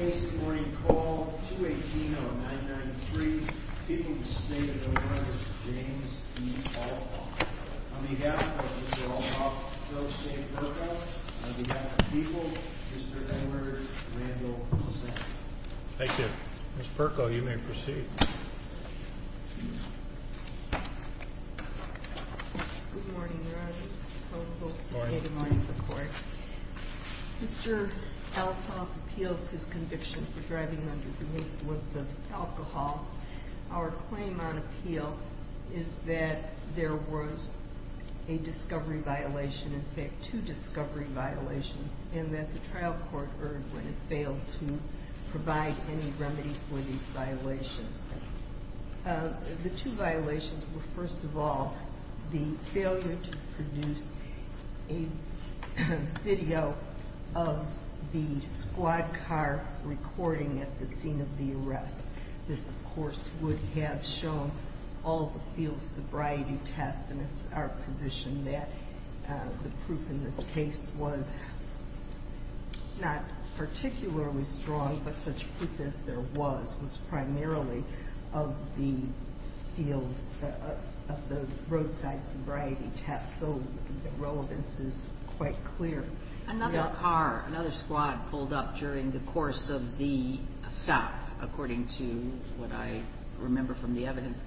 On behalf of Mr. Althoff, Joe C. Perko, on behalf of the people, Mr. Edward Randall Hussain. Thank you. Ms. Perko, you may proceed. Good morning, Your Honor. Mr. Althoff appeals his conviction for driving under the influence of alcohol. Our claim on appeal is that there was a discovery violation, in fact two discovery violations, and that the trial court erred when it failed to provide any remedy for these violations. The two violations were, first of all, the failure to produce a video of the squad car recording at the scene of the arrest. This, of course, would have shown all the field sobriety tests, and it's our position that the proof in this case was not particularly strong, but such proof as there was, was primarily of the field, of the roadside sobriety tests, so the relevance is quite clear. Another car, another squad pulled up during the course of the stop, according to what I remember from the evidence.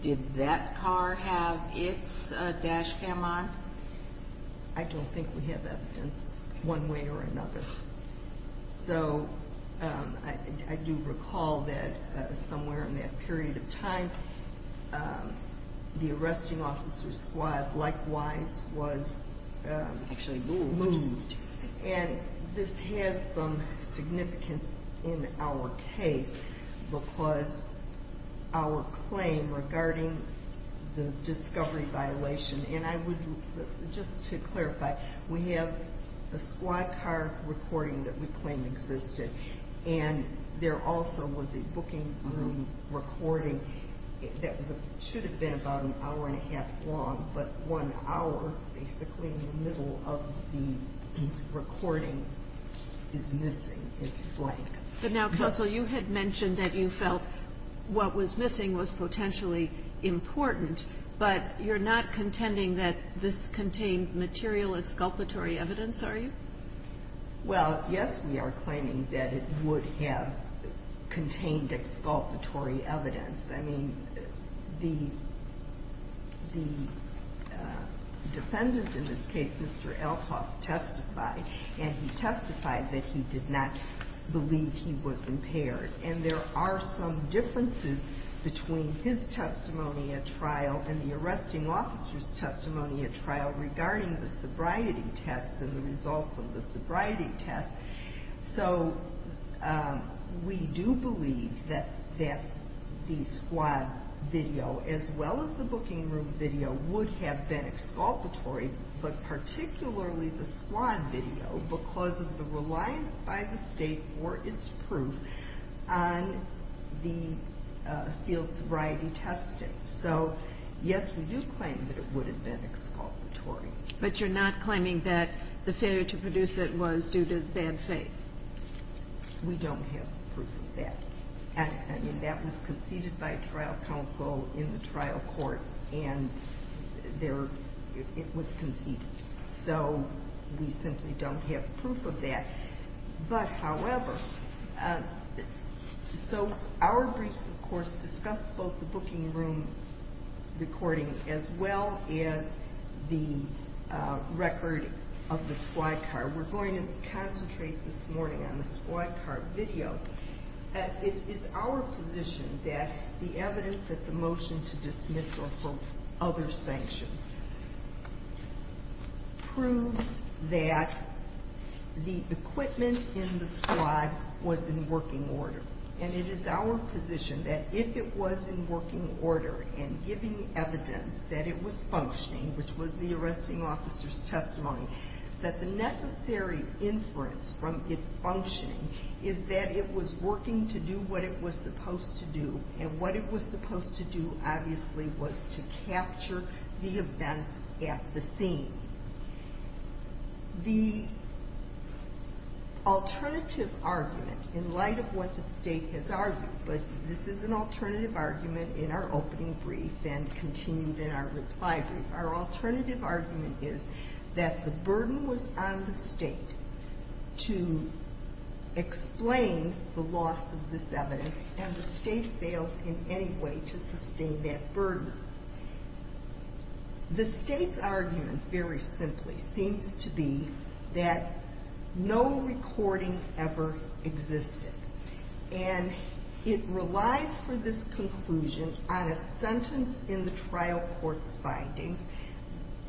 Did that car have its dash cam on? I don't think we have evidence one way or another. So I do recall that somewhere in that period of time, the arresting officer's squad likewise was moved. And this has some significance in our case because our claim regarding the discovery violation, and I would, just to clarify, we have a squad car recording that we claim existed, and there also was a booking room recording that should have been about an hour and a half long, but one hour basically in the middle of the recording is missing, is blank. But now, counsel, you had mentioned that you felt what was missing was potentially important, but you're not contending that this contained material exculpatory evidence, are you? Well, yes, we are claiming that it would have contained exculpatory evidence. I mean, the defendant in this case, Mr. Elthoff, testified, and he testified that he did not believe he was impaired. And there are some differences between his testimony at trial and the arresting officer's testimony at trial regarding the sobriety tests and the results of the sobriety tests. So we do believe that the squad video, as well as the booking room video, would have been exculpatory, but particularly the squad video because of the reliance by the State for its proof on the field sobriety testing. So, yes, we do claim that it would have been exculpatory. But you're not claiming that the failure to produce it was due to bad faith? We don't have proof of that. I mean, that was conceded by trial counsel in the trial court, and it was conceded. So we simply don't have proof of that. But, however, so our briefs, of course, discuss both the booking room recording as well as the record of the squad car. We're going to concentrate this morning on the squad car video. It is our position that the evidence that the motion to dismiss or hold other sanctions proves that the equipment in the squad was in working order. And it is our position that if it was in working order and giving evidence that it was functioning, which was the arresting officer's testimony, that the necessary inference from it functioning is that it was working to do what it was supposed to do. And what it was supposed to do, obviously, was to capture the events at the scene. The alternative argument, in light of what the State has argued, but this is an alternative argument in our opening brief and continued in our reply brief. Our alternative argument is that the burden was on the State to explain the loss of this evidence, and the State failed in any way to sustain that burden. The State's argument, very simply, seems to be that no recording ever existed. And it relies for this conclusion on a sentence in the trial court's findings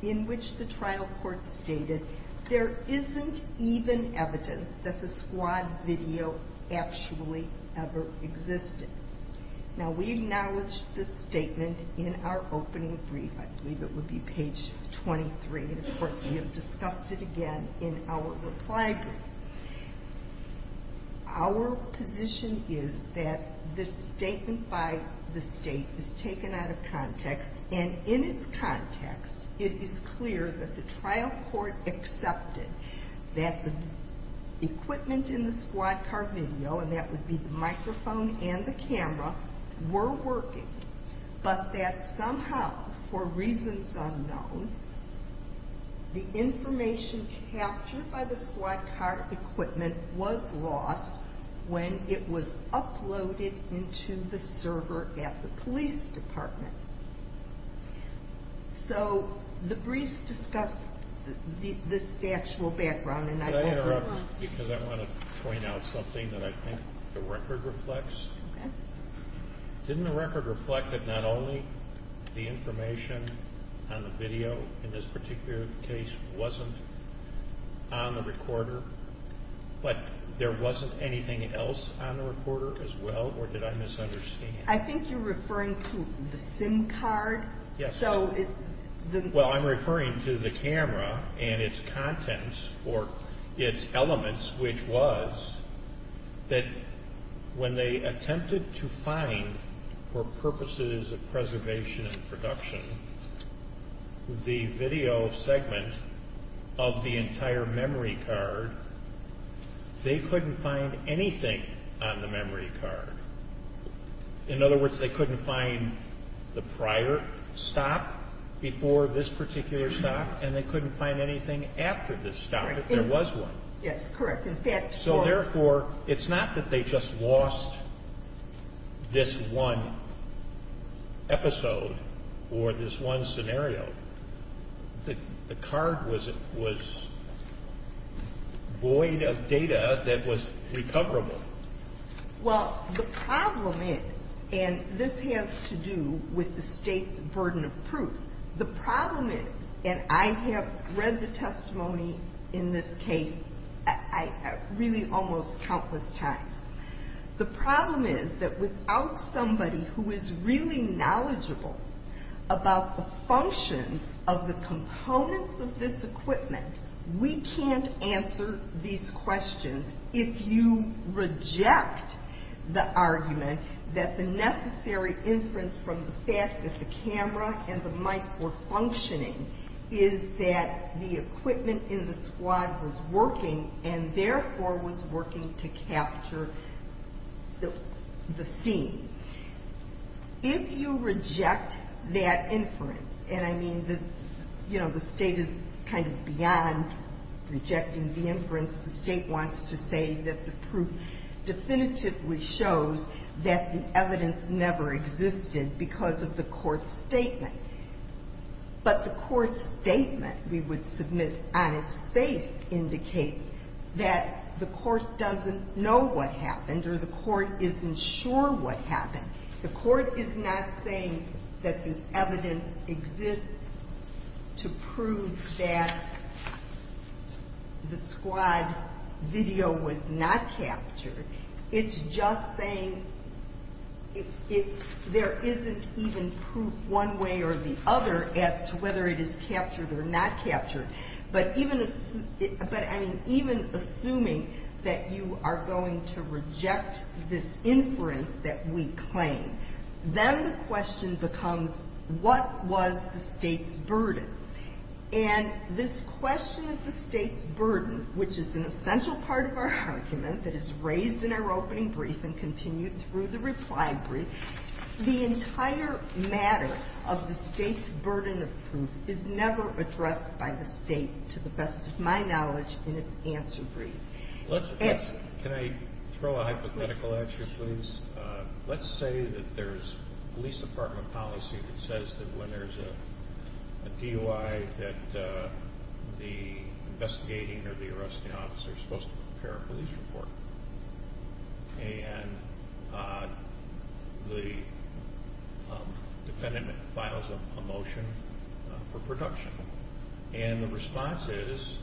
in which the trial court stated there isn't even evidence that the squad video actually ever existed. Now, we acknowledge this statement in our opening brief. I believe it would be page 23, and, of course, we have discussed it again in our reply brief. Our position is that this statement by the State is taken out of context, and in its context, it is clear that the trial court accepted that the equipment in the squad car video, and that would be the microphone and the camera, were working, but that somehow, for reasons unknown, the information captured by the squad car equipment was lost when it was uploaded into the server at the police department. So the briefs discuss this factual background, and I want to... The record reflects? Okay. Didn't the record reflect that not only the information on the video in this particular case wasn't on the recorder, but there wasn't anything else on the recorder as well, or did I misunderstand? I think you're referring to the SIM card. Yes. Well, I'm referring to the camera and its contents or its elements, which was that when they attempted to find, for purposes of preservation and production, the video segment of the entire memory card, they couldn't find anything on the memory card. In other words, they couldn't find the prior stop before this particular stop, and they couldn't find anything after this stop if there was one. Yes, correct. In fact... So therefore, it's not that they just lost this one episode or this one scenario. The card was void of data that was recoverable. Well, the problem is, and this has to do with the state's burden of proof, the problem is, and I have read the testimony in this case really almost countless times, the problem is that without somebody who is really knowledgeable about the functions of the components of this equipment, we can't answer these questions if you reject the argument that the necessary inference from the fact that the camera and the mic were functioning is that the equipment in the squad was working and therefore was working to capture the scene. If you reject that inference, and I mean, you know, the state is kind of beyond rejecting the inference. The state wants to say that the proof definitively shows that the evidence never existed because of the court's statement. But the court's statement, we would submit on its face, indicates that the court doesn't know what happened or the court isn't sure what happened. The court is not saying that the evidence exists to prove that the squad video was not captured. It's just saying there isn't even proof one way or the other as to whether it is captured or not captured. But even assuming that you are going to reject this inference that we claim, then the question becomes what was the state's burden? And this question of the state's burden, which is an essential part of our argument that is raised in our opening brief and continued through the reply brief, the entire matter of the state's burden of proof is never addressed by the state, to the best of my knowledge, in its answer brief. Can I throw a hypothetical at you, please? Let's say that there's police department policy that says that when there's a DUI that the investigating or the arresting officer is supposed to prepare a police report. And the defendant files a motion for production. And the response is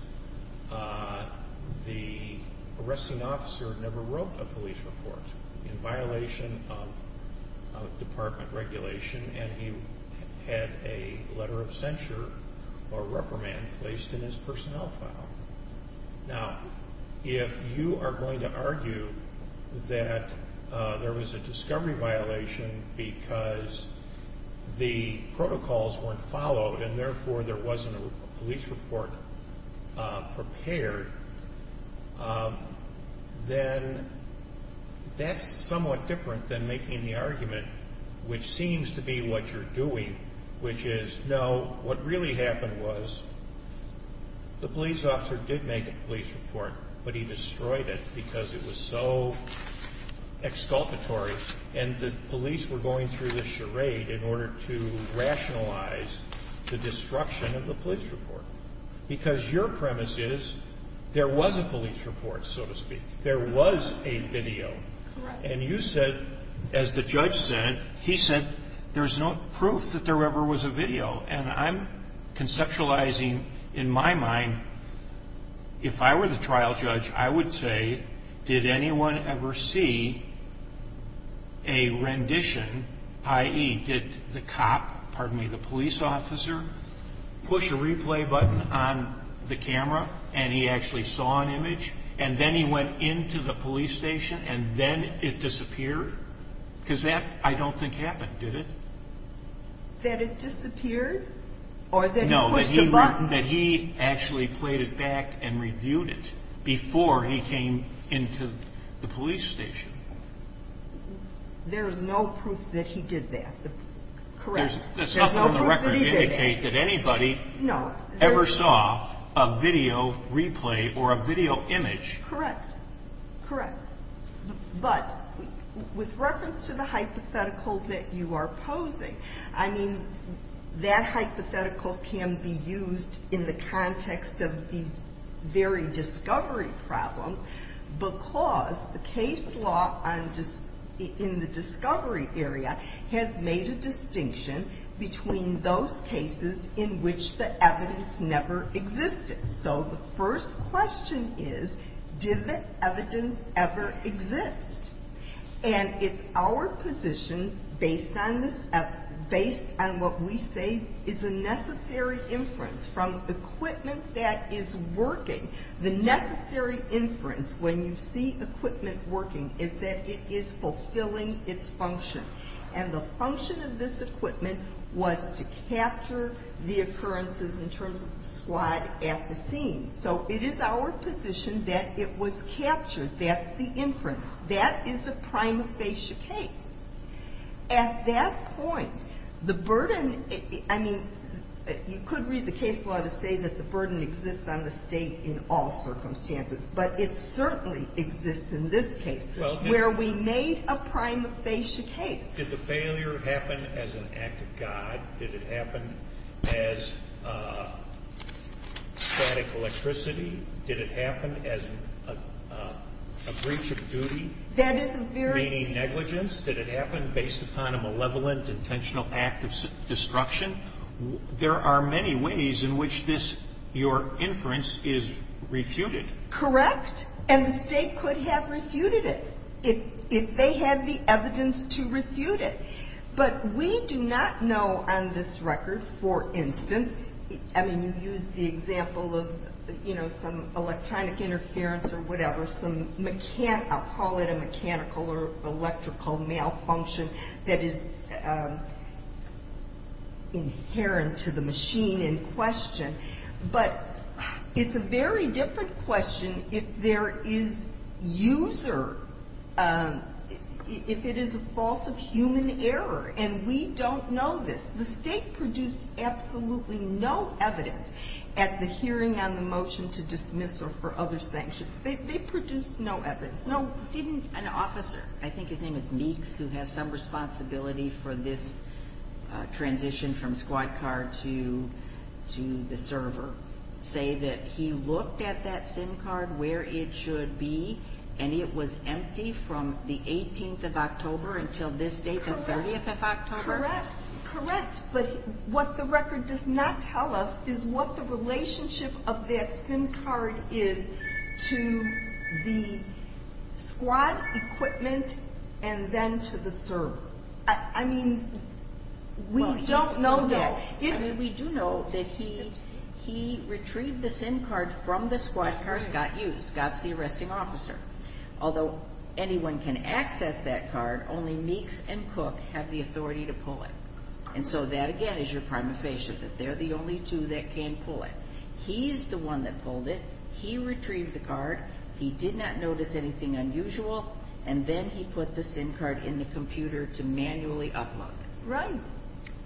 the arresting officer never wrote a police report in violation of department regulation and he had a letter of censure or reprimand placed in his personnel file. Now, if you are going to argue that there was a discovery violation because the protocols weren't followed and therefore there wasn't a police report prepared, then that's somewhat different than making the argument which seems to be what you're doing, which is, no, what really happened was the police officer did make a police report, but he destroyed it because it was so exculpatory and the police were going through the charade in order to rationalize the destruction of the police report. Because your premise is there was a police report, so to speak. There was a video. Correct. And you said, as the judge said, he said, there's no proof that there ever was a video. And I'm conceptualizing in my mind, if I were the trial judge, I would say, did anyone ever see a rendition, i.e., did the cop, pardon me, the police officer, push a replay button on the camera and he actually saw an image? And then he went into the police station and then it disappeared? Because that I don't think happened, did it? That it disappeared? Or that he pushed a button? No, that he actually played it back and reviewed it before he came into the police station. There's no proof that he did that. Correct. There's nothing on the record to indicate that anybody ever saw a video replay or a video image. Correct. Correct. But with reference to the hypothetical that you are posing, I mean, that hypothetical can be used in the context of these very discovery problems because the case law in the discovery area has made a distinction between those cases in which the evidence never existed. So the first question is, did the evidence ever exist? And it's our position based on what we say is a necessary inference from equipment that is working. The necessary inference when you see equipment working is that it is fulfilling its function. And the function of this equipment was to capture the occurrences in terms of the squad at the scene. So it is our position that it was captured. That's the inference. That is a prima facie case. At that point, the burden, I mean, you could read the case law to say that the burden exists on the State in all circumstances, but it certainly exists in this case where we made a prima facie case. Did the failure happen as an act of God? Did it happen as static electricity? Did it happen as a breach of duty, meaning negligence? Did it happen based upon a malevolent, intentional act of disruption? There are many ways in which this, your inference, is refuted. Correct. And the State could have refuted it if they had the evidence to refute it. But we do not know on this record, for instance, I mean, you used the example of, you know, some electronic interference or whatever, some, I'll call it a mechanical or electrical malfunction that is inherent to the machine in question. But it's a very different question if there is user, if it is a fault of human error. And we don't know this. The State produced absolutely no evidence at the hearing on the motion to dismiss or for other sanctions. They produced no evidence, no. Didn't an officer, I think his name is Meeks, who has some responsibility for this transition from squad car to the server, say that he looked at that SIM card where it should be and it was empty from the 18th of October until this date, the 30th of October? Correct. But what the record does not tell us is what the relationship of that SIM card is to the squad equipment and then to the server. I mean, we don't know that. We do know that he retrieved the SIM card from the squad car Scott used. Scott's the arresting officer. Although anyone can access that card, only Meeks and Cook have the authority to pull it. And so that, again, is your prima facie, that they're the only two that can pull it. He's the one that pulled it. He retrieved the card. He did not notice anything unusual. And then he put the SIM card in the computer to manually upload. Right.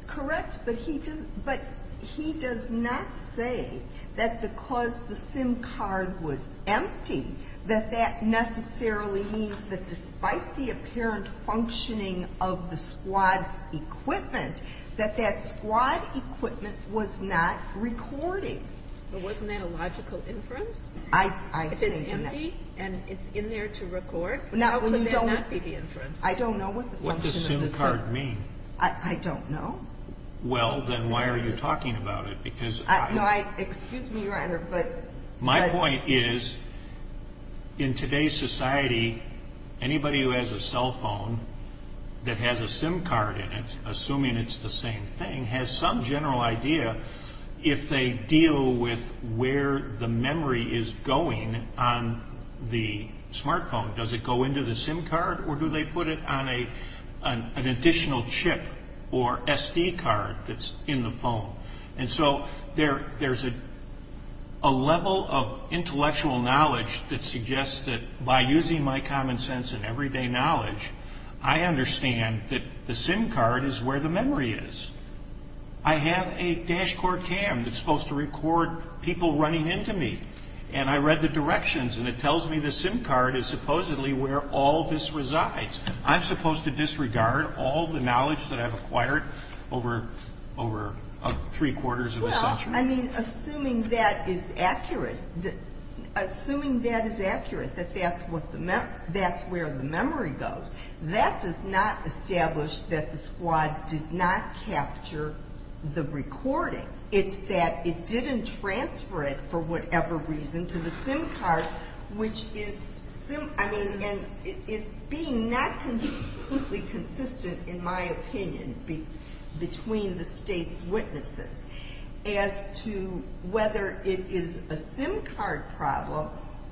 Correct. But he does not say that because the SIM card was empty that that necessarily means that despite the apparent functioning of the squad equipment, that that squad equipment was not recording. But wasn't that a logical inference? If it's empty and it's in there to record, how could that not be the inference? I don't know what the function of the SIM card is. What does SIM card mean? I don't know. Well, then why are you talking about it? Because I don't know. Excuse me, Your Honor, but... My point is in today's society, anybody who has a cell phone that has a SIM card in it, assuming it's the same thing, has some general idea if they deal with where the memory is going on the smart phone. Does it go into the SIM card or do they put it on an additional chip or SD card that's in the phone? And so there's a level of intellectual knowledge that suggests that by using my common sense and everyday knowledge, I understand that the SIM card is where the memory is. I have a dash core cam that's supposed to record people running into me, and I read the directions and it tells me the SIM card is supposedly where all this resides. I'm supposed to disregard all the knowledge that I've acquired over three-quarters of a century? I mean, assuming that is accurate, assuming that is accurate, that that's where the memory goes, that does not establish that the squad did not capture the recording. It's that it didn't transfer it for whatever reason to the SIM card, which is... whether it is a SIM card problem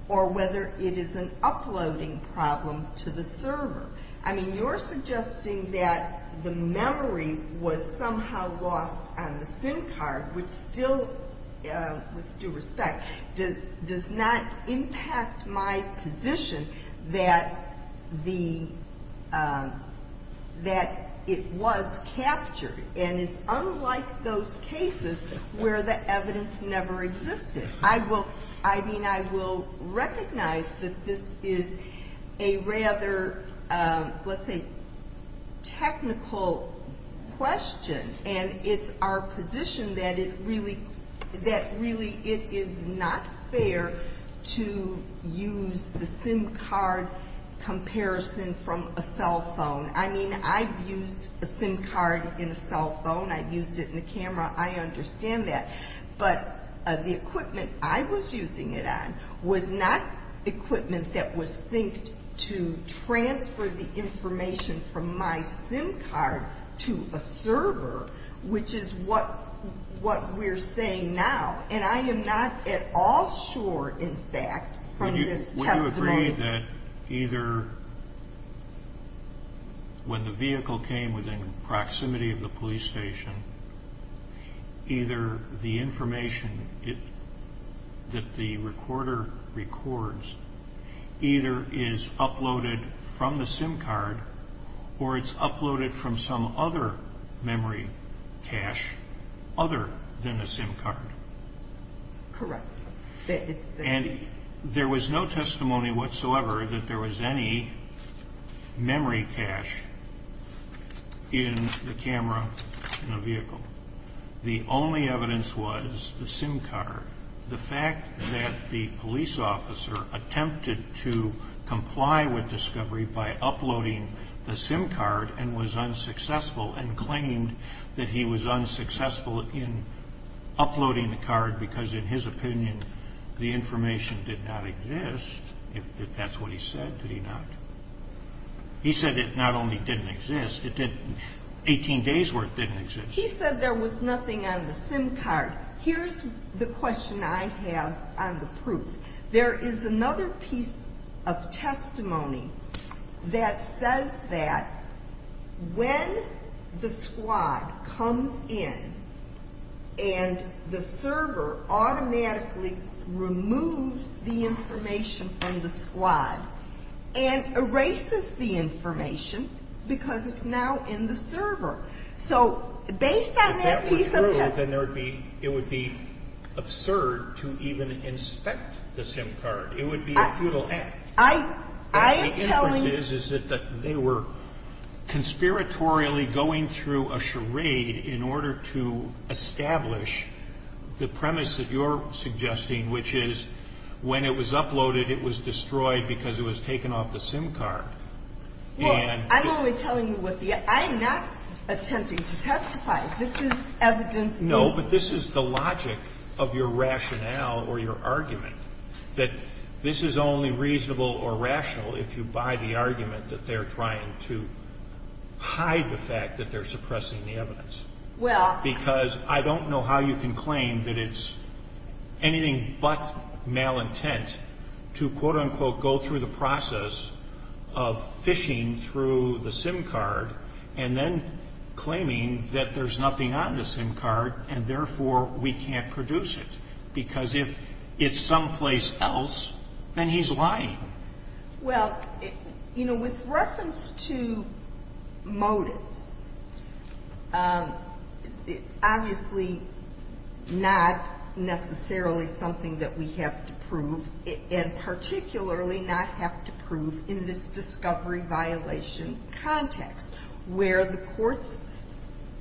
or whether it is an uploading problem to the server. I mean, you're suggesting that the memory was somehow lost on the SIM card, which still, with due respect, does not impact my position that the, that it was captured. And it's unlike those cases where the evidence never existed. I will, I mean, I will recognize that this is a rather, let's say, technical question, and it's our position that it really, that really it is not fair to use the SIM card comparison from a cell phone. I mean, I've used a SIM card in a cell phone. I've used it in a camera. I understand that. But the equipment I was using it on was not equipment that was synced to transfer the information from my SIM card to a server, which is what we're saying now. And I am not at all sure, in fact, from this testimony... When the vehicle came within proximity of the police station, either the information that the recorder records either is uploaded from the SIM card or it's uploaded from some other memory cache other than a SIM card. Correct. And there was no testimony whatsoever that there was any memory cache in the camera in the vehicle. The only evidence was the SIM card. The fact that the police officer attempted to comply with discovery by uploading the SIM card and was unsuccessful and claimed that he was unsuccessful in uploading the card because, in his opinion, the information did not exist. If that's what he said, did he not? He said it not only didn't exist, it didn't... 18 days where it didn't exist. He said there was nothing on the SIM card. There is another piece of testimony that says that when the squad comes in and the server automatically removes the information from the squad and erases the information because it's now in the server. So based on that piece of testimony... I'm not saying that the police officer attempted to comply with discovery by uploading the SIM card. It would be a futile act. I'm telling you. What my inference is, is that they were conspiratorially going through a charade in order to establish the premise that you're suggesting, which is when it was uploaded, it was destroyed because it was taken off the SIM card. And... Well, I'm only telling you what the... I am not attempting to testify. This is evidence... No, but this is the logic of your rationale or your argument, that this is only reasonable or rational if you buy the argument that they're trying to hide the fact that they're suppressing the evidence. Well... Because I don't know how you can claim that it's anything but malintent to, quote, unquote, go through the process of phishing through the SIM card and then claiming that there's nothing on the SIM card and therefore we can't produce it because if it's someplace else, then he's lying. Well, you know, with reference to motives, obviously not necessarily something that we have to prove and particularly not have to prove in this discovery violation context where the court's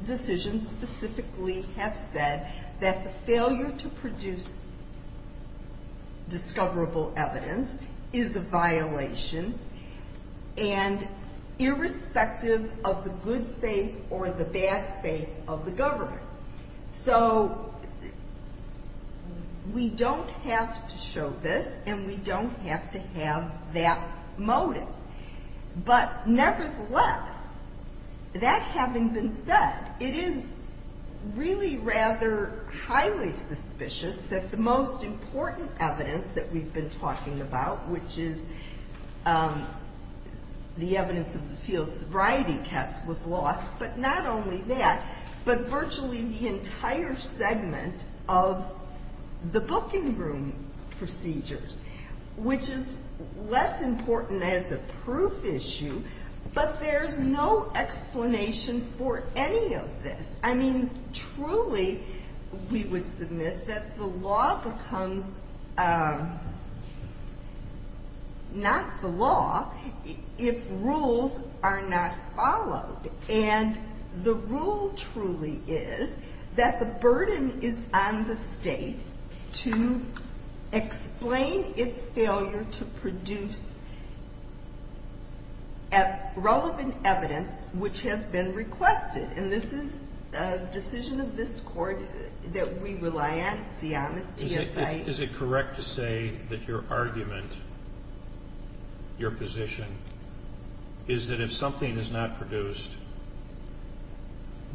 decisions specifically have said that the failure to produce discoverable evidence is a violation and irrespective of the good faith or the bad faith of the government. So we don't have to show this and we don't have to have that motive. But nevertheless, that having been said, it is really rather highly suspicious that the most important evidence that we've been talking about, which is the evidence of the field sobriety test, was lost, but not only that, but virtually the entire segment of the booking room procedures, which is less important as a proof issue, but there's no explanation for any of this. I mean, truly, we would submit that the law becomes not the law if rules are not followed. And the rule truly is that the burden is on the state to explain its failure to produce relevant evidence which has been requested. And this is a decision of this court that we rely on. Is it correct to say that your argument, your position, is that if something is not produced,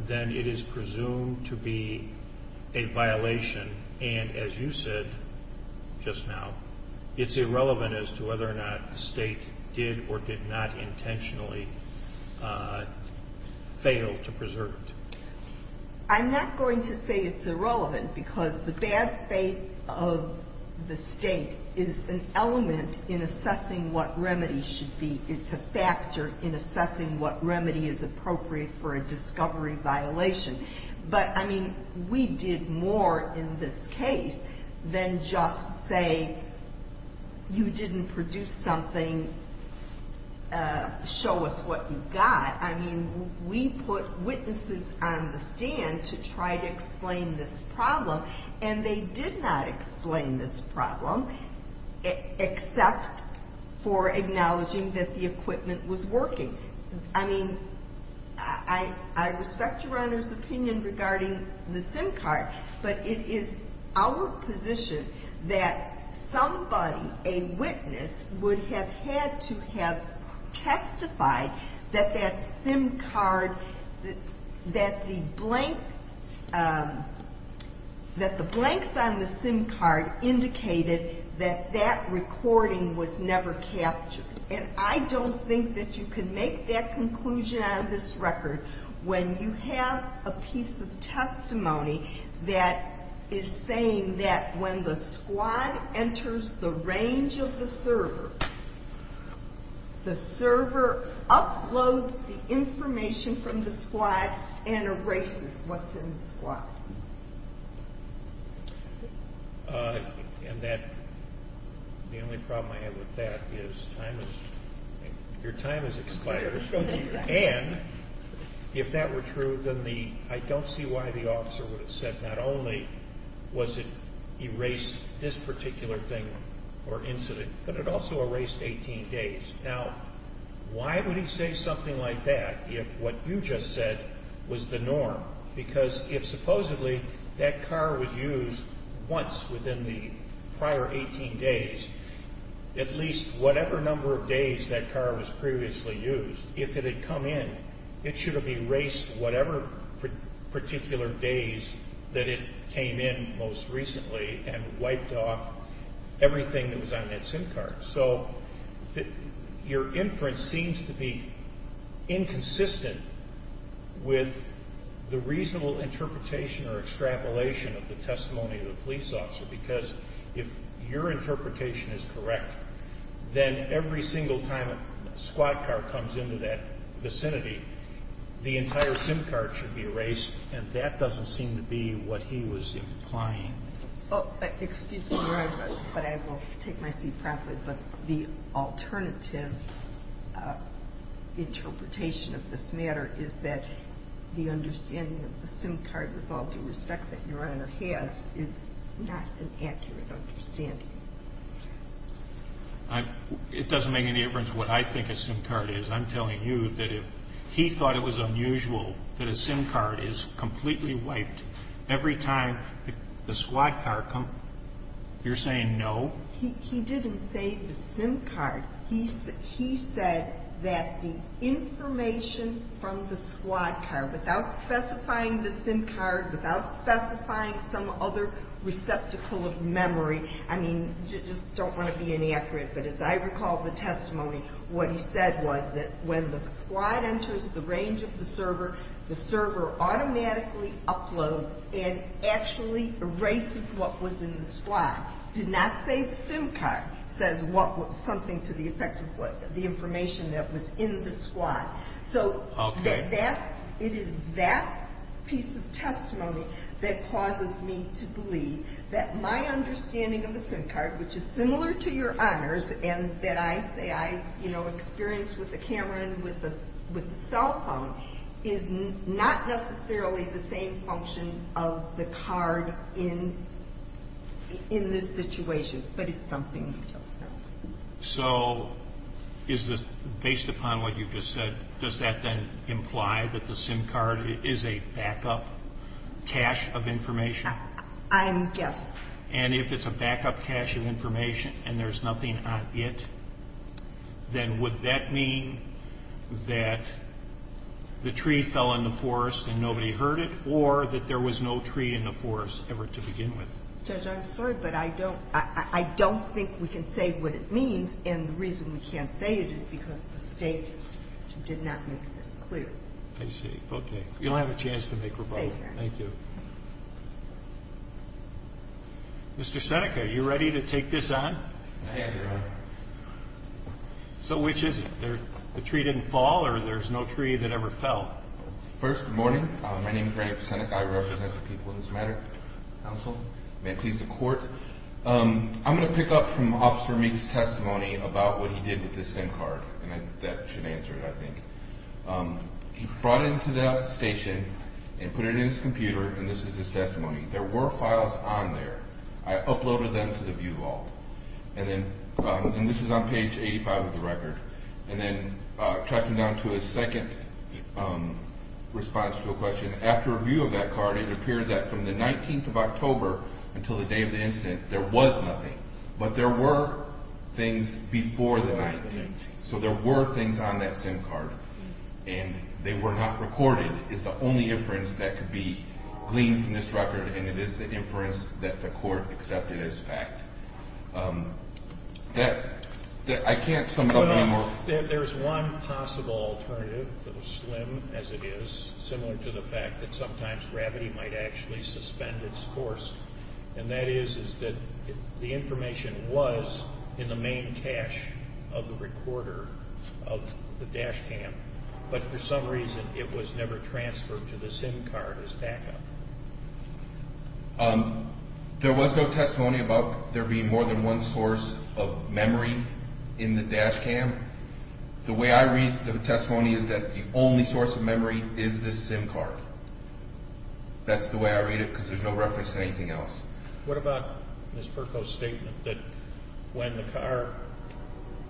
then it is presumed to be a violation and as you said just now, it's irrelevant as to whether or not the state did or did not intentionally fail to preserve it? I'm not going to say it's irrelevant, because the bad faith of the state is an element in assessing what remedy should be. It's a factor in assessing what remedy is appropriate for a discovery violation. But, I mean, we did more in this case than just say, you didn't produce something, show us what you got. I mean, we put witnesses on the stand to try to explain this problem, and they did not explain this problem except for acknowledging that the equipment was working. I mean, I respect your Honor's opinion regarding the SIM card, but it is our position that somebody, a witness, would have had to have testified that that SIM card, that the blanks on the SIM card indicated that that recording was never captured. And I don't think that you can make that conclusion on this record when you have a piece of testimony that is saying that when the squad enters the range of the server, the server uploads the information from the squad and erases what's in the squad. And that, the only problem I have with that is your time has expired. Thank you. And if that were true, then the, I don't see why the officer would have said, not only was it erased this particular thing or incident, but it also erased 18 days. Now, why would he say something like that if what you just said was the norm? Because if supposedly that car was used once within the prior 18 days, at least whatever number of days that car was previously used, if it had come in, it should have erased whatever particular days that it came in most recently and wiped off everything that was on that SIM card. So your inference seems to be inconsistent with the reasonable interpretation or extrapolation of the testimony of the police officer, because if your interpretation is correct, then every single time a squad car comes into that vicinity, the entire SIM card should be erased, and that doesn't seem to be what he was implying. Excuse me, Your Honor, but I will take my seat properly. But the alternative interpretation of this matter is that the understanding of the SIM card, with all due respect that Your Honor has, is not an accurate understanding. It doesn't make any difference what I think a SIM card is. I'm telling you that if he thought it was unusual that a SIM card is completely wiped every time the squad car comes, you're saying no? He didn't say the SIM card. He said that the information from the squad car, without specifying the SIM card, without specifying some other receptacle of memory, I mean, I just don't want to be inaccurate, but as I recall the testimony, what he said was that when the squad enters the range of the server, the server automatically uploads and actually erases what was in the squad. He did not say the SIM card says something to the effect of the information that was in the squad. So it is that piece of testimony that causes me to believe that my understanding of the SIM card, which is similar to Your Honor's and that I say I experienced with the camera and with the cell phone, is not necessarily the same function of the card in this situation, but it's something different. So is this based upon what you just said? Does that then imply that the SIM card is a backup cache of information? I'm guessing. And if it's a backup cache of information and there's nothing on it, then would that mean that the tree fell in the forest and nobody heard it or that there was no tree in the forest ever to begin with? Judge, I'm sorry, but I don't think we can say what it means, and the reason we can't say it is because the State did not make this clear. I see. Okay. You'll have a chance to make rebuttal. Thank you. Thank you. Mr. Seneca, are you ready to take this on? I am, Your Honor. So which is it? The tree didn't fall or there's no tree that ever fell? First, good morning. My name is Frank Seneca. I represent the people in this matter. Counsel, may it please the Court, I'm going to pick up from Officer Meek's testimony about what he did with the SIM card, and that should answer it, I think. He brought it into the station and put it in his computer, and this is his testimony. There were files on there. I uploaded them to the view vault, and this is on page 85 of the record. And then tracking down to his second response to a question, after review of that card it appeared that from the 19th of October until the day of the incident there was nothing, but there were things before the 19th. So there were things on that SIM card, and they were not recorded. The SIM card is the only inference that could be gleaned from this record, and it is the inference that the Court accepted as fact. I can't sum it up any more. There's one possible alternative, as slim as it is, similar to the fact that sometimes gravity might actually suspend its course, and that is that the information was in the main cache of the recorder of the dash cam, but for some reason it was never transferred to the SIM card as backup. There was no testimony about there being more than one source of memory in the dash cam. The way I read the testimony is that the only source of memory is this SIM card. That's the way I read it because there's no reference to anything else. What about Ms. Perko's statement that when the car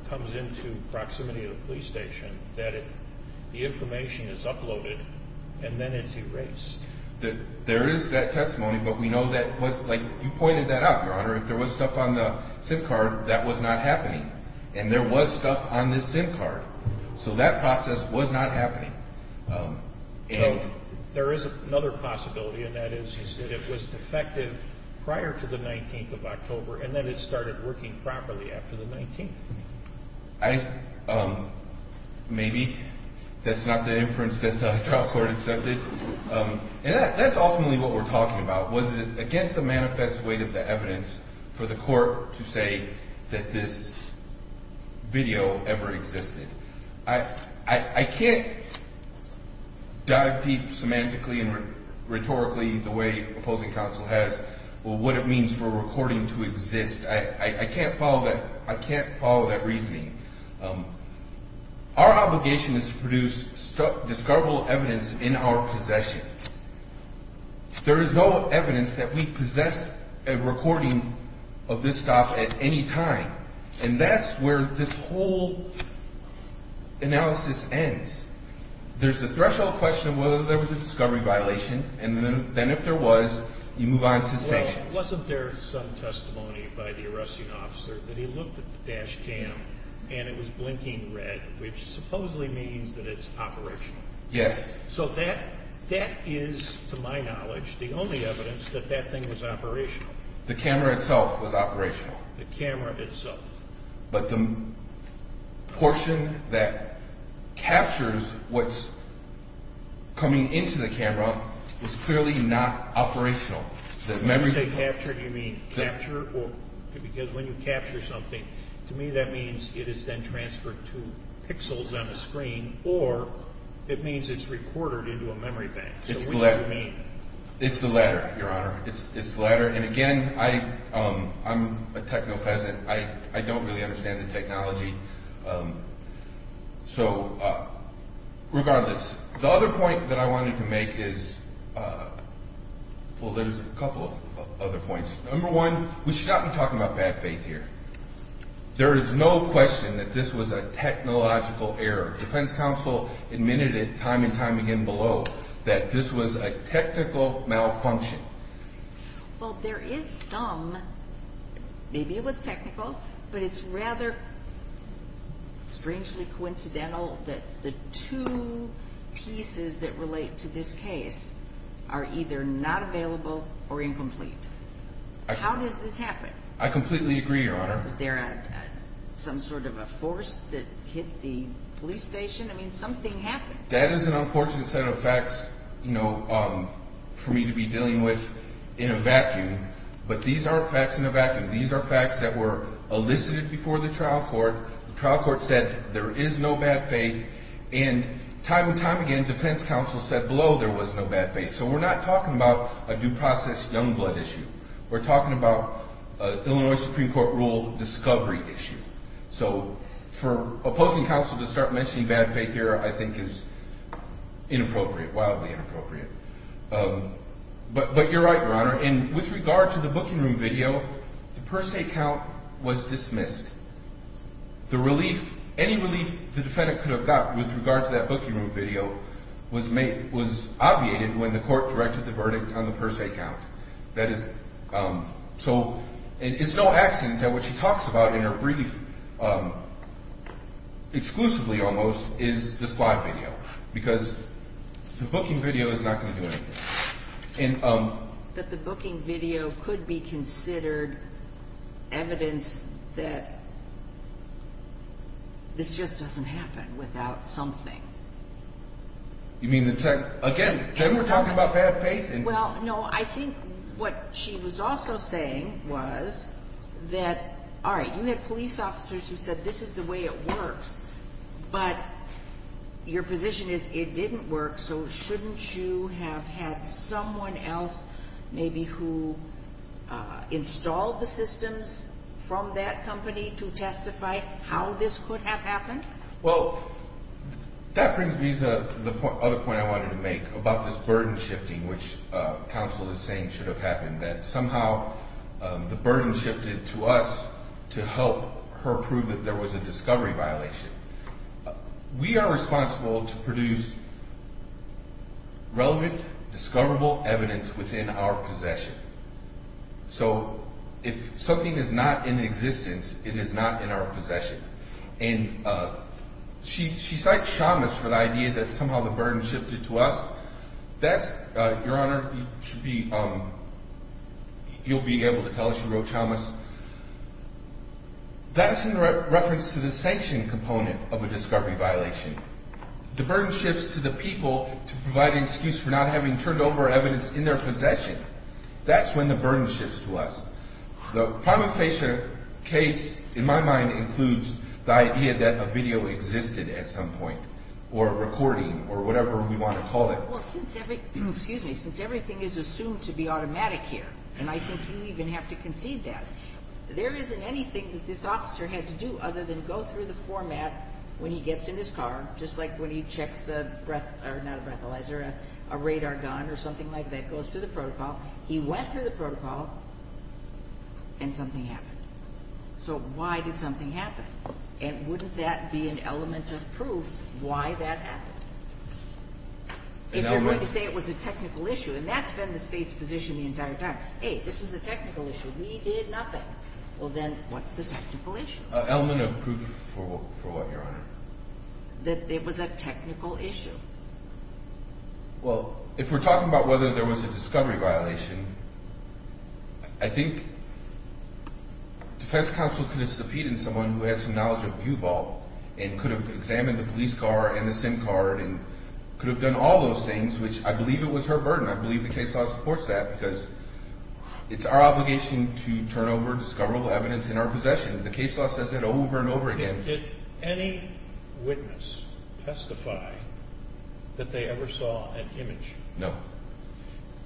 comes into proximity to the police station that the information is uploaded and then it's erased? There is that testimony, but we know that, like you pointed that out, Your Honor, if there was stuff on the SIM card that was not happening, and there was stuff on this SIM card. So that process was not happening. There is another possibility, and that is that it was defective prior to the 19th of October, and then it started working properly after the 19th. Maybe that's not the inference that the trial court accepted. That's ultimately what we're talking about. Was it against the manifest weight of the evidence for the court to say that this video ever existed? I can't dive deep semantically and rhetorically the way opposing counsel has what it means for a recording to exist. I can't follow that reasoning. Our obligation is to produce discoverable evidence in our possession. There is no evidence that we possess a recording of this stuff at any time, and that's where this whole analysis ends. There's the threshold question of whether there was a discovery violation, and then if there was, you move on to sanctions. Wasn't there some testimony by the arresting officer that he looked at the dash cam and it was blinking red, which supposedly means that it's operational? Yes. So that is, to my knowledge, the only evidence that that thing was operational. The camera itself was operational. The camera itself. But the portion that captures what's coming into the camera is clearly not operational. When you say captured, you mean captured? Because when you capture something, to me that means it is then transferred to pixels on the screen or it means it's recorded into a memory bank. It's the latter, Your Honor. It's the latter. And, again, I'm a techno-peasant. I don't really understand the technology. So regardless, the other point that I wanted to make is, well, there's a couple of other points. Number one, we should not be talking about bad faith here. There is no question that this was a technological error. Defense counsel admitted it time and time again below that this was a technical malfunction. Well, there is some. Maybe it was technical, but it's rather strangely coincidental that the two pieces that relate to this case are either not available or incomplete. How does this happen? I completely agree, Your Honor. Was there some sort of a force that hit the police station? I mean, something happened. That is an unfortunate set of facts for me to be dealing with in a vacuum. But these aren't facts in a vacuum. These are facts that were elicited before the trial court. The trial court said there is no bad faith. And time and time again, defense counsel said below there was no bad faith. So we're not talking about a due process young blood issue. We're talking about an Illinois Supreme Court rule discovery issue. So for opposing counsel to start mentioning bad faith here I think is inappropriate, wildly inappropriate. But you're right, Your Honor. And with regard to the booking room video, the per se count was dismissed. The relief, any relief the defendant could have got with regard to that booking room video was obviated when the court directed the verdict on the per se count. So it's no accident that what she talks about in her brief exclusively almost is the squad video because the booking video is not going to do anything. But the booking video could be considered evidence that this just doesn't happen without something. You mean again, then we're talking about bad faith? Well, no, I think what she was also saying was that, all right, you had police officers who said this is the way it works. But your position is it didn't work. So shouldn't you have had someone else maybe who installed the systems from that company to testify how this could have happened? Well, that brings me to the other point I wanted to make about this burden shifting, which counsel is saying should have happened, that somehow the burden shifted to us to help her prove that there was a discovery violation. We are responsible to produce relevant, discoverable evidence within our possession. So if something is not in existence, it is not in our possession. And she cites Chamas for the idea that somehow the burden shifted to us. Your Honor, you'll be able to tell us you wrote Chamas. That's in reference to the sanction component of a discovery violation. The burden shifts to the people to provide an excuse for not having turned over evidence in their possession. That's when the burden shifts to us. The prima facie case, in my mind, includes the idea that a video existed at some point or a recording or whatever we want to call it. Well, since everything is assumed to be automatic here, and I think you even have to concede that, there isn't anything that this officer had to do other than go through the format when he gets in his car, just like when he checks a radar gun or something like that, goes through the protocol. He went through the protocol, and something happened. So why did something happen? And wouldn't that be an element of proof why that happened? If you're going to say it was a technical issue, and that's been the State's position the entire time. Hey, this was a technical issue. We did nothing. Well, then what's the technical issue? Element of proof for what, Your Honor? That it was a technical issue. Well, if we're talking about whether there was a discovery violation, I think defense counsel could have subpoenaed someone who had some knowledge of view ball and could have examined the police car and the SIM card and could have done all those things, which I believe it was her burden. I believe the case law supports that because it's our obligation to turn over discoverable evidence in our possession. The case law says that over and over again. Did any witness testify that they ever saw an image? No.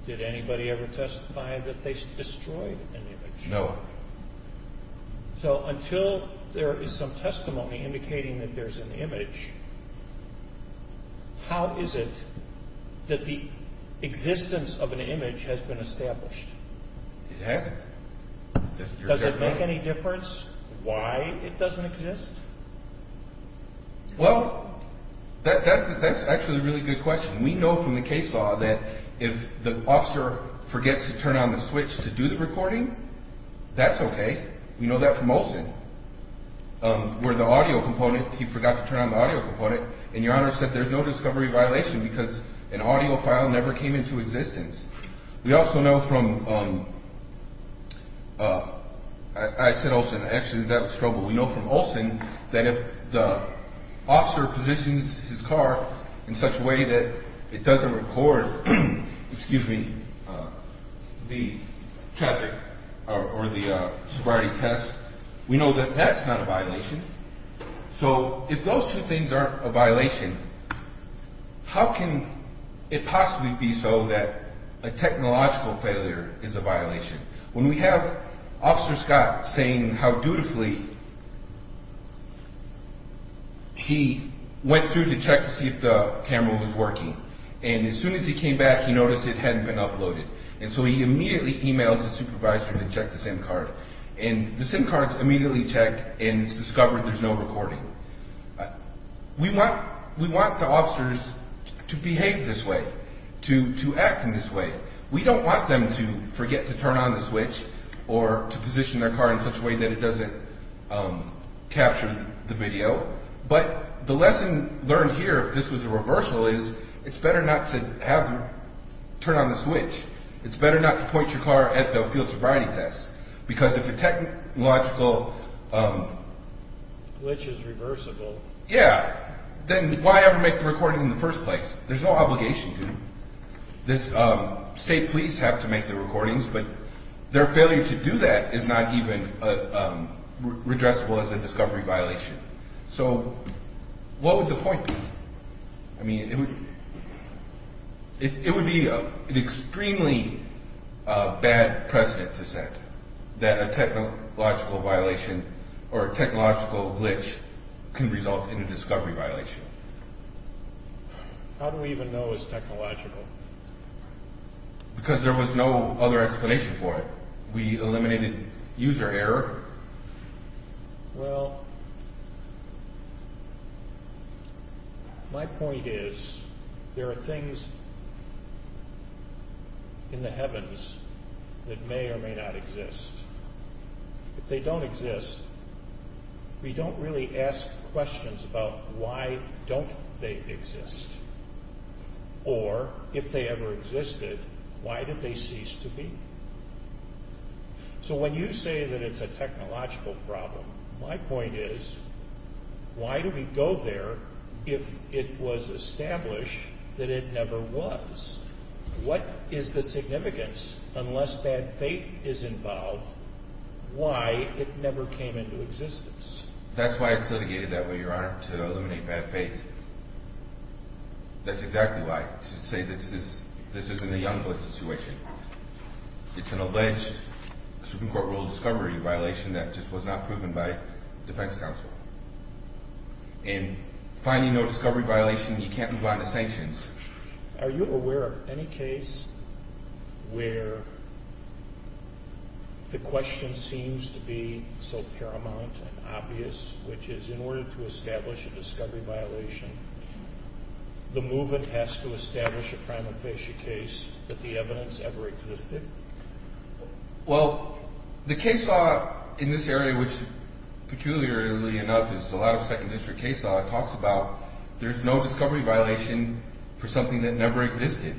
Did anybody ever testify that they destroyed an image? No. So until there is some testimony indicating that there's an image, how is it that the existence of an image has been established? It hasn't. Does it make any difference why it doesn't exist? Well, that's actually a really good question. We know from the case law that if the officer forgets to turn on the switch to do the recording, that's okay. We know that from Olson, where the audio component, he forgot to turn on the audio component, and Your Honor said there's no discovery violation because an audio file never came into existence. We also know from, I said Olson. Actually, that was Trouble. We know from Olson that if the officer positions his car in such a way that it doesn't record the traffic or the sobriety test, we know that that's not a violation. So if those two things aren't a violation, how can it possibly be so that a technological failure is a violation? When we have Officer Scott saying how dutifully he went through to check to see if the camera was working, and as soon as he came back, he noticed it hadn't been uploaded, and so he immediately emails his supervisor to check the SIM card, and the SIM card is immediately checked, and it's discovered there's no recording. We want the officers to behave this way, to act in this way. We don't want them to forget to turn on the switch or to position their car in such a way that it doesn't capture the video, but the lesson learned here, if this was a reversal, is it's better not to have them turn on the switch. It's better not to point your car at the field sobriety test, because if a technological glitch is reversible, then why ever make the recording in the first place? There's no obligation to. State police have to make the recordings, but their failure to do that is not even redressable as a discovery violation. So what would the point be? I mean, it would be an extremely bad precedent to set that a technological violation or a technological glitch can result in a discovery violation. How do we even know it's technological? Because there was no other explanation for it. We eliminated user error. Well, my point is, there are things in the heavens that may or may not exist. If they don't exist, we don't really ask questions about why don't they exist. Or, if they ever existed, why did they cease to be? So when you say that it's a technological problem, my point is, why do we go there if it was established that it never was? What is the significance, unless bad faith is involved, why it never came into existence? That's why it's litigated that way, Your Honor, to eliminate bad faith. That's exactly why, to say this isn't a Youngblood situation. It's an alleged Supreme Court ruled discovery violation that just was not proven by defense counsel. And finding no discovery violation, you can't move on to sanctions. Are you aware of any case where the question seems to be so paramount and obvious, which is in order to establish a discovery violation, the movement has to establish a prima facie case that the evidence ever existed? Well, the case law in this area, which peculiarly enough is a lot of second district case law, talks about there's no discovery violation for something that never existed.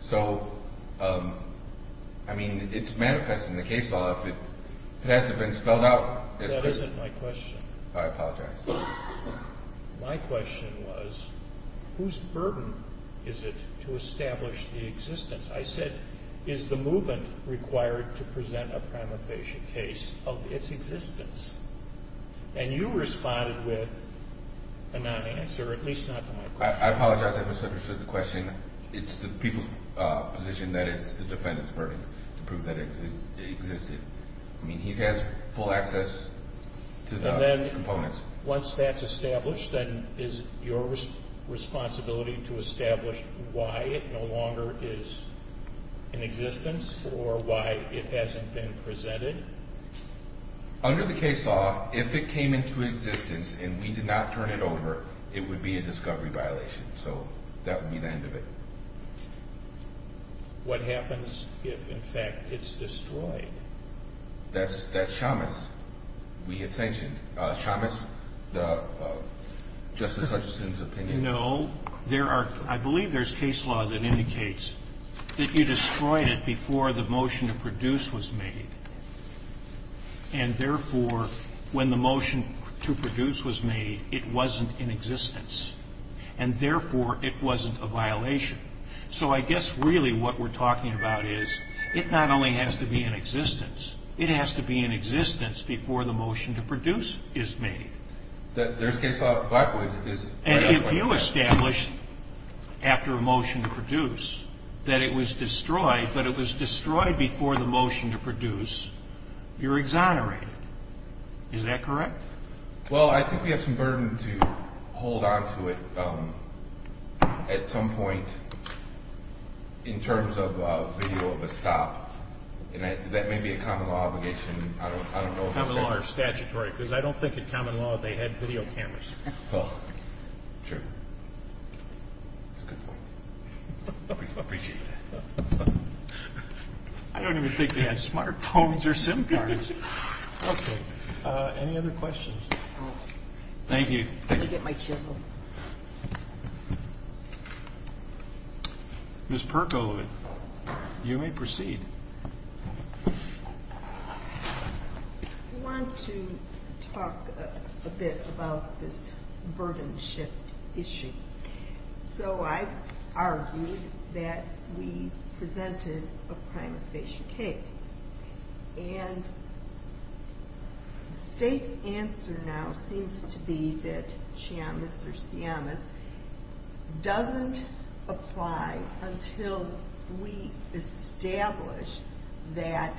So, I mean, it's manifest in the case law if it hasn't been spelled out. That isn't my question. I apologize. My question was, whose burden is it to establish the existence? I said, is the movement required to present a prima facie case of its existence? And you responded with a non-answer, at least not to my question. I apologize if I misunderstood the question. It's the people's position that it's the defendant's burden to prove that it existed. I mean, he has full access to the components. And then once that's established, then is it your responsibility to establish why it no longer is in existence or why it hasn't been presented? Under the case law, if it came into existence and we did not turn it over, it would be a discovery violation. So that would be the end of it. What happens if, in fact, it's destroyed? That's Shamus. We get sanctioned. Shamus, Justice Hutchison's opinion. No. I believe there's case law that indicates that you destroyed it before the motion to produce was made. And, therefore, when the motion to produce was made, it wasn't in existence. And, therefore, it wasn't a violation. So I guess really what we're talking about is it not only has to be in existence. It has to be in existence before the motion to produce is made. There's case law that Blackwood is right on that. And if you establish after a motion to produce that it was destroyed, but it was destroyed before the motion to produce, you're exonerated. Is that correct? Well, I think we have some burden to hold on to it at some point in terms of the view of a stop. And that may be a common law obligation. Common law or statutory, because I don't think in common law they had video cameras. Oh, true. That's a good point. I appreciate that. I don't even think they had smartphones or SIM cards. Okay. Any other questions? Thank you. Let me get my chisel. Ms. Perko, you may proceed. I want to talk a bit about this burden shift issue. So I argued that we presented a prima facie case. And the state's answer now seems to be that CMS or CMS doesn't apply until we establish that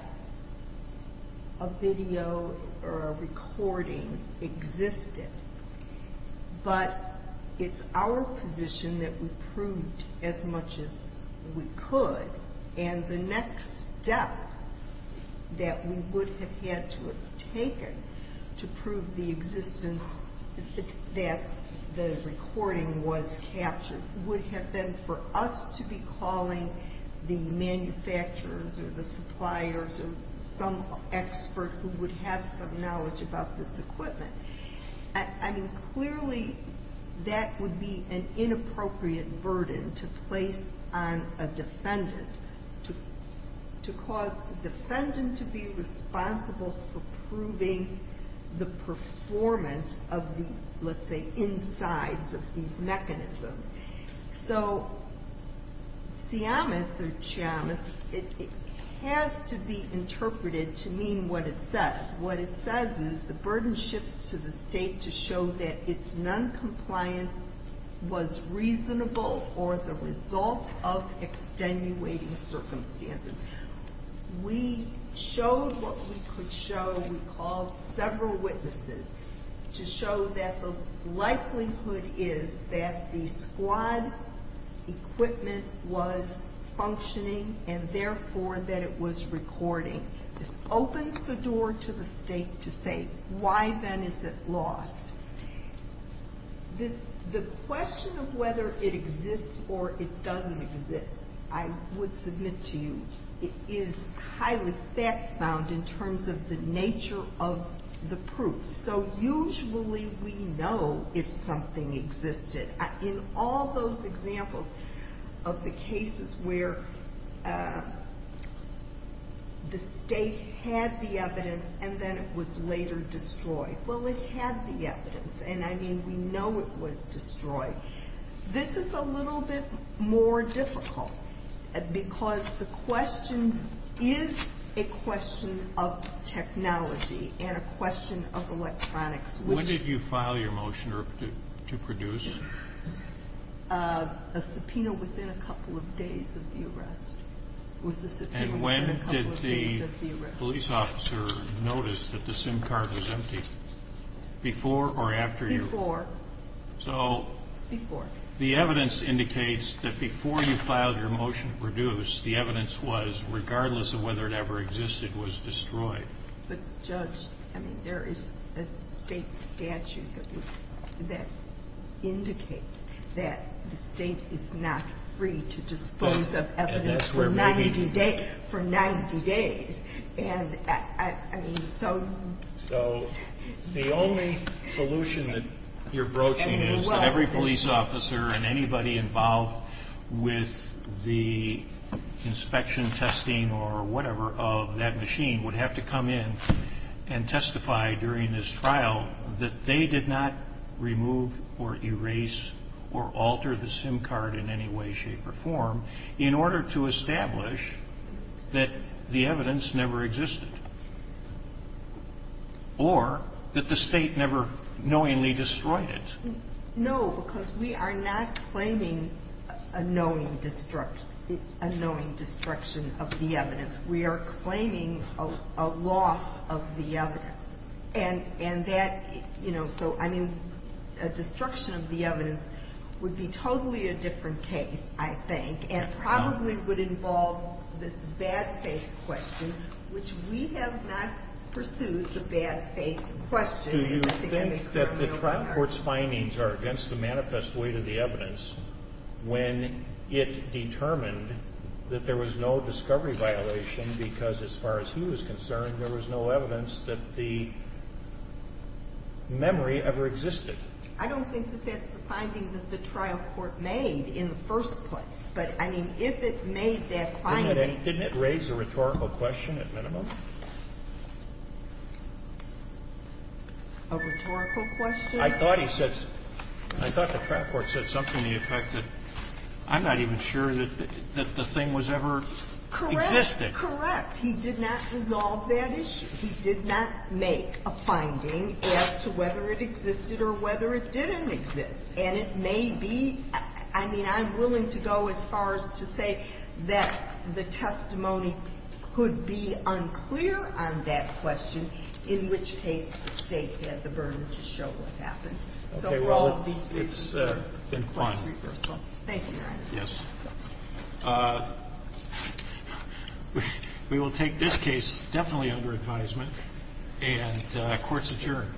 a video or a recording existed. But it's our position that we proved as much as we could. And the next step that we would have had to have taken to prove the existence that the recording was captured would have been for us to be calling the manufacturers or the suppliers or some expert who would have some knowledge about this equipment. I mean, clearly that would be an inappropriate burden to place on a defendant to cause a defendant to be responsible for proving the performance of the, let's say, insides of these mechanisms. So CMS or CMS, it has to be interpreted to mean what it says. What it says is the burden shifts to the state to show that its noncompliance was reasonable or the result of extenuating circumstances. We showed what we could show. We called several witnesses to show that the likelihood is that the squad equipment was functioning and, therefore, that it was recording. This opens the door to the state to say, why, then, is it lost? The question of whether it exists or it doesn't exist, I would submit to you, is highly fact-bound in terms of the nature of the proof. So usually we know if something existed. In all those examples of the cases where the state had the evidence and then it was later destroyed, well, it had the evidence, and, I mean, we know it was destroyed. This is a little bit more difficult because the question is a question of technology and a question of electronics. When did you file your motion to produce? A subpoena within a couple of days of the arrest was a subpoena within a couple of days of the arrest. And when did the police officer notice that the SIM card was empty? Before or after you? Before. So the evidence indicates that before you filed your motion to produce, But, Judge, I mean, there is a state statute that indicates that the state is not free to dispose of evidence for 90 days. And, I mean, so... So the only solution that you're broaching is that every police officer and anybody involved with the inspection, testing, or whatever of that machine would have to come in and testify during this trial that they did not remove or erase or alter the SIM card in any way, shape, or form in order to establish that the evidence never existed or that the state never knowingly destroyed it. No, because we are not claiming a knowing destruction of the evidence. We are claiming a loss of the evidence. And that, you know, so, I mean, a destruction of the evidence would be totally a different case, I think, and probably would involve this bad faith question, which we have not pursued the bad faith question. Do you think that the trial court's findings are against the manifest weight of the evidence when it determined that there was no discovery violation because, as far as he was concerned, there was no evidence that the memory ever existed? I don't think that that's the finding that the trial court made in the first place. But, I mean, if it made that finding... A rhetorical question? I thought he said, I thought the trial court said something to the effect that I'm not even sure that the thing was ever existed. Correct. Correct. He did not resolve that issue. He did not make a finding as to whether it existed or whether it didn't exist. And it may be, I mean, I'm willing to go as far as to say that the testimony could be unclear on that question, in which case the State had the burden to show what happened. Okay, well, it's been fine. Thank you, Your Honor. Yes. We will take this case definitely under advisement, and court's adjourned.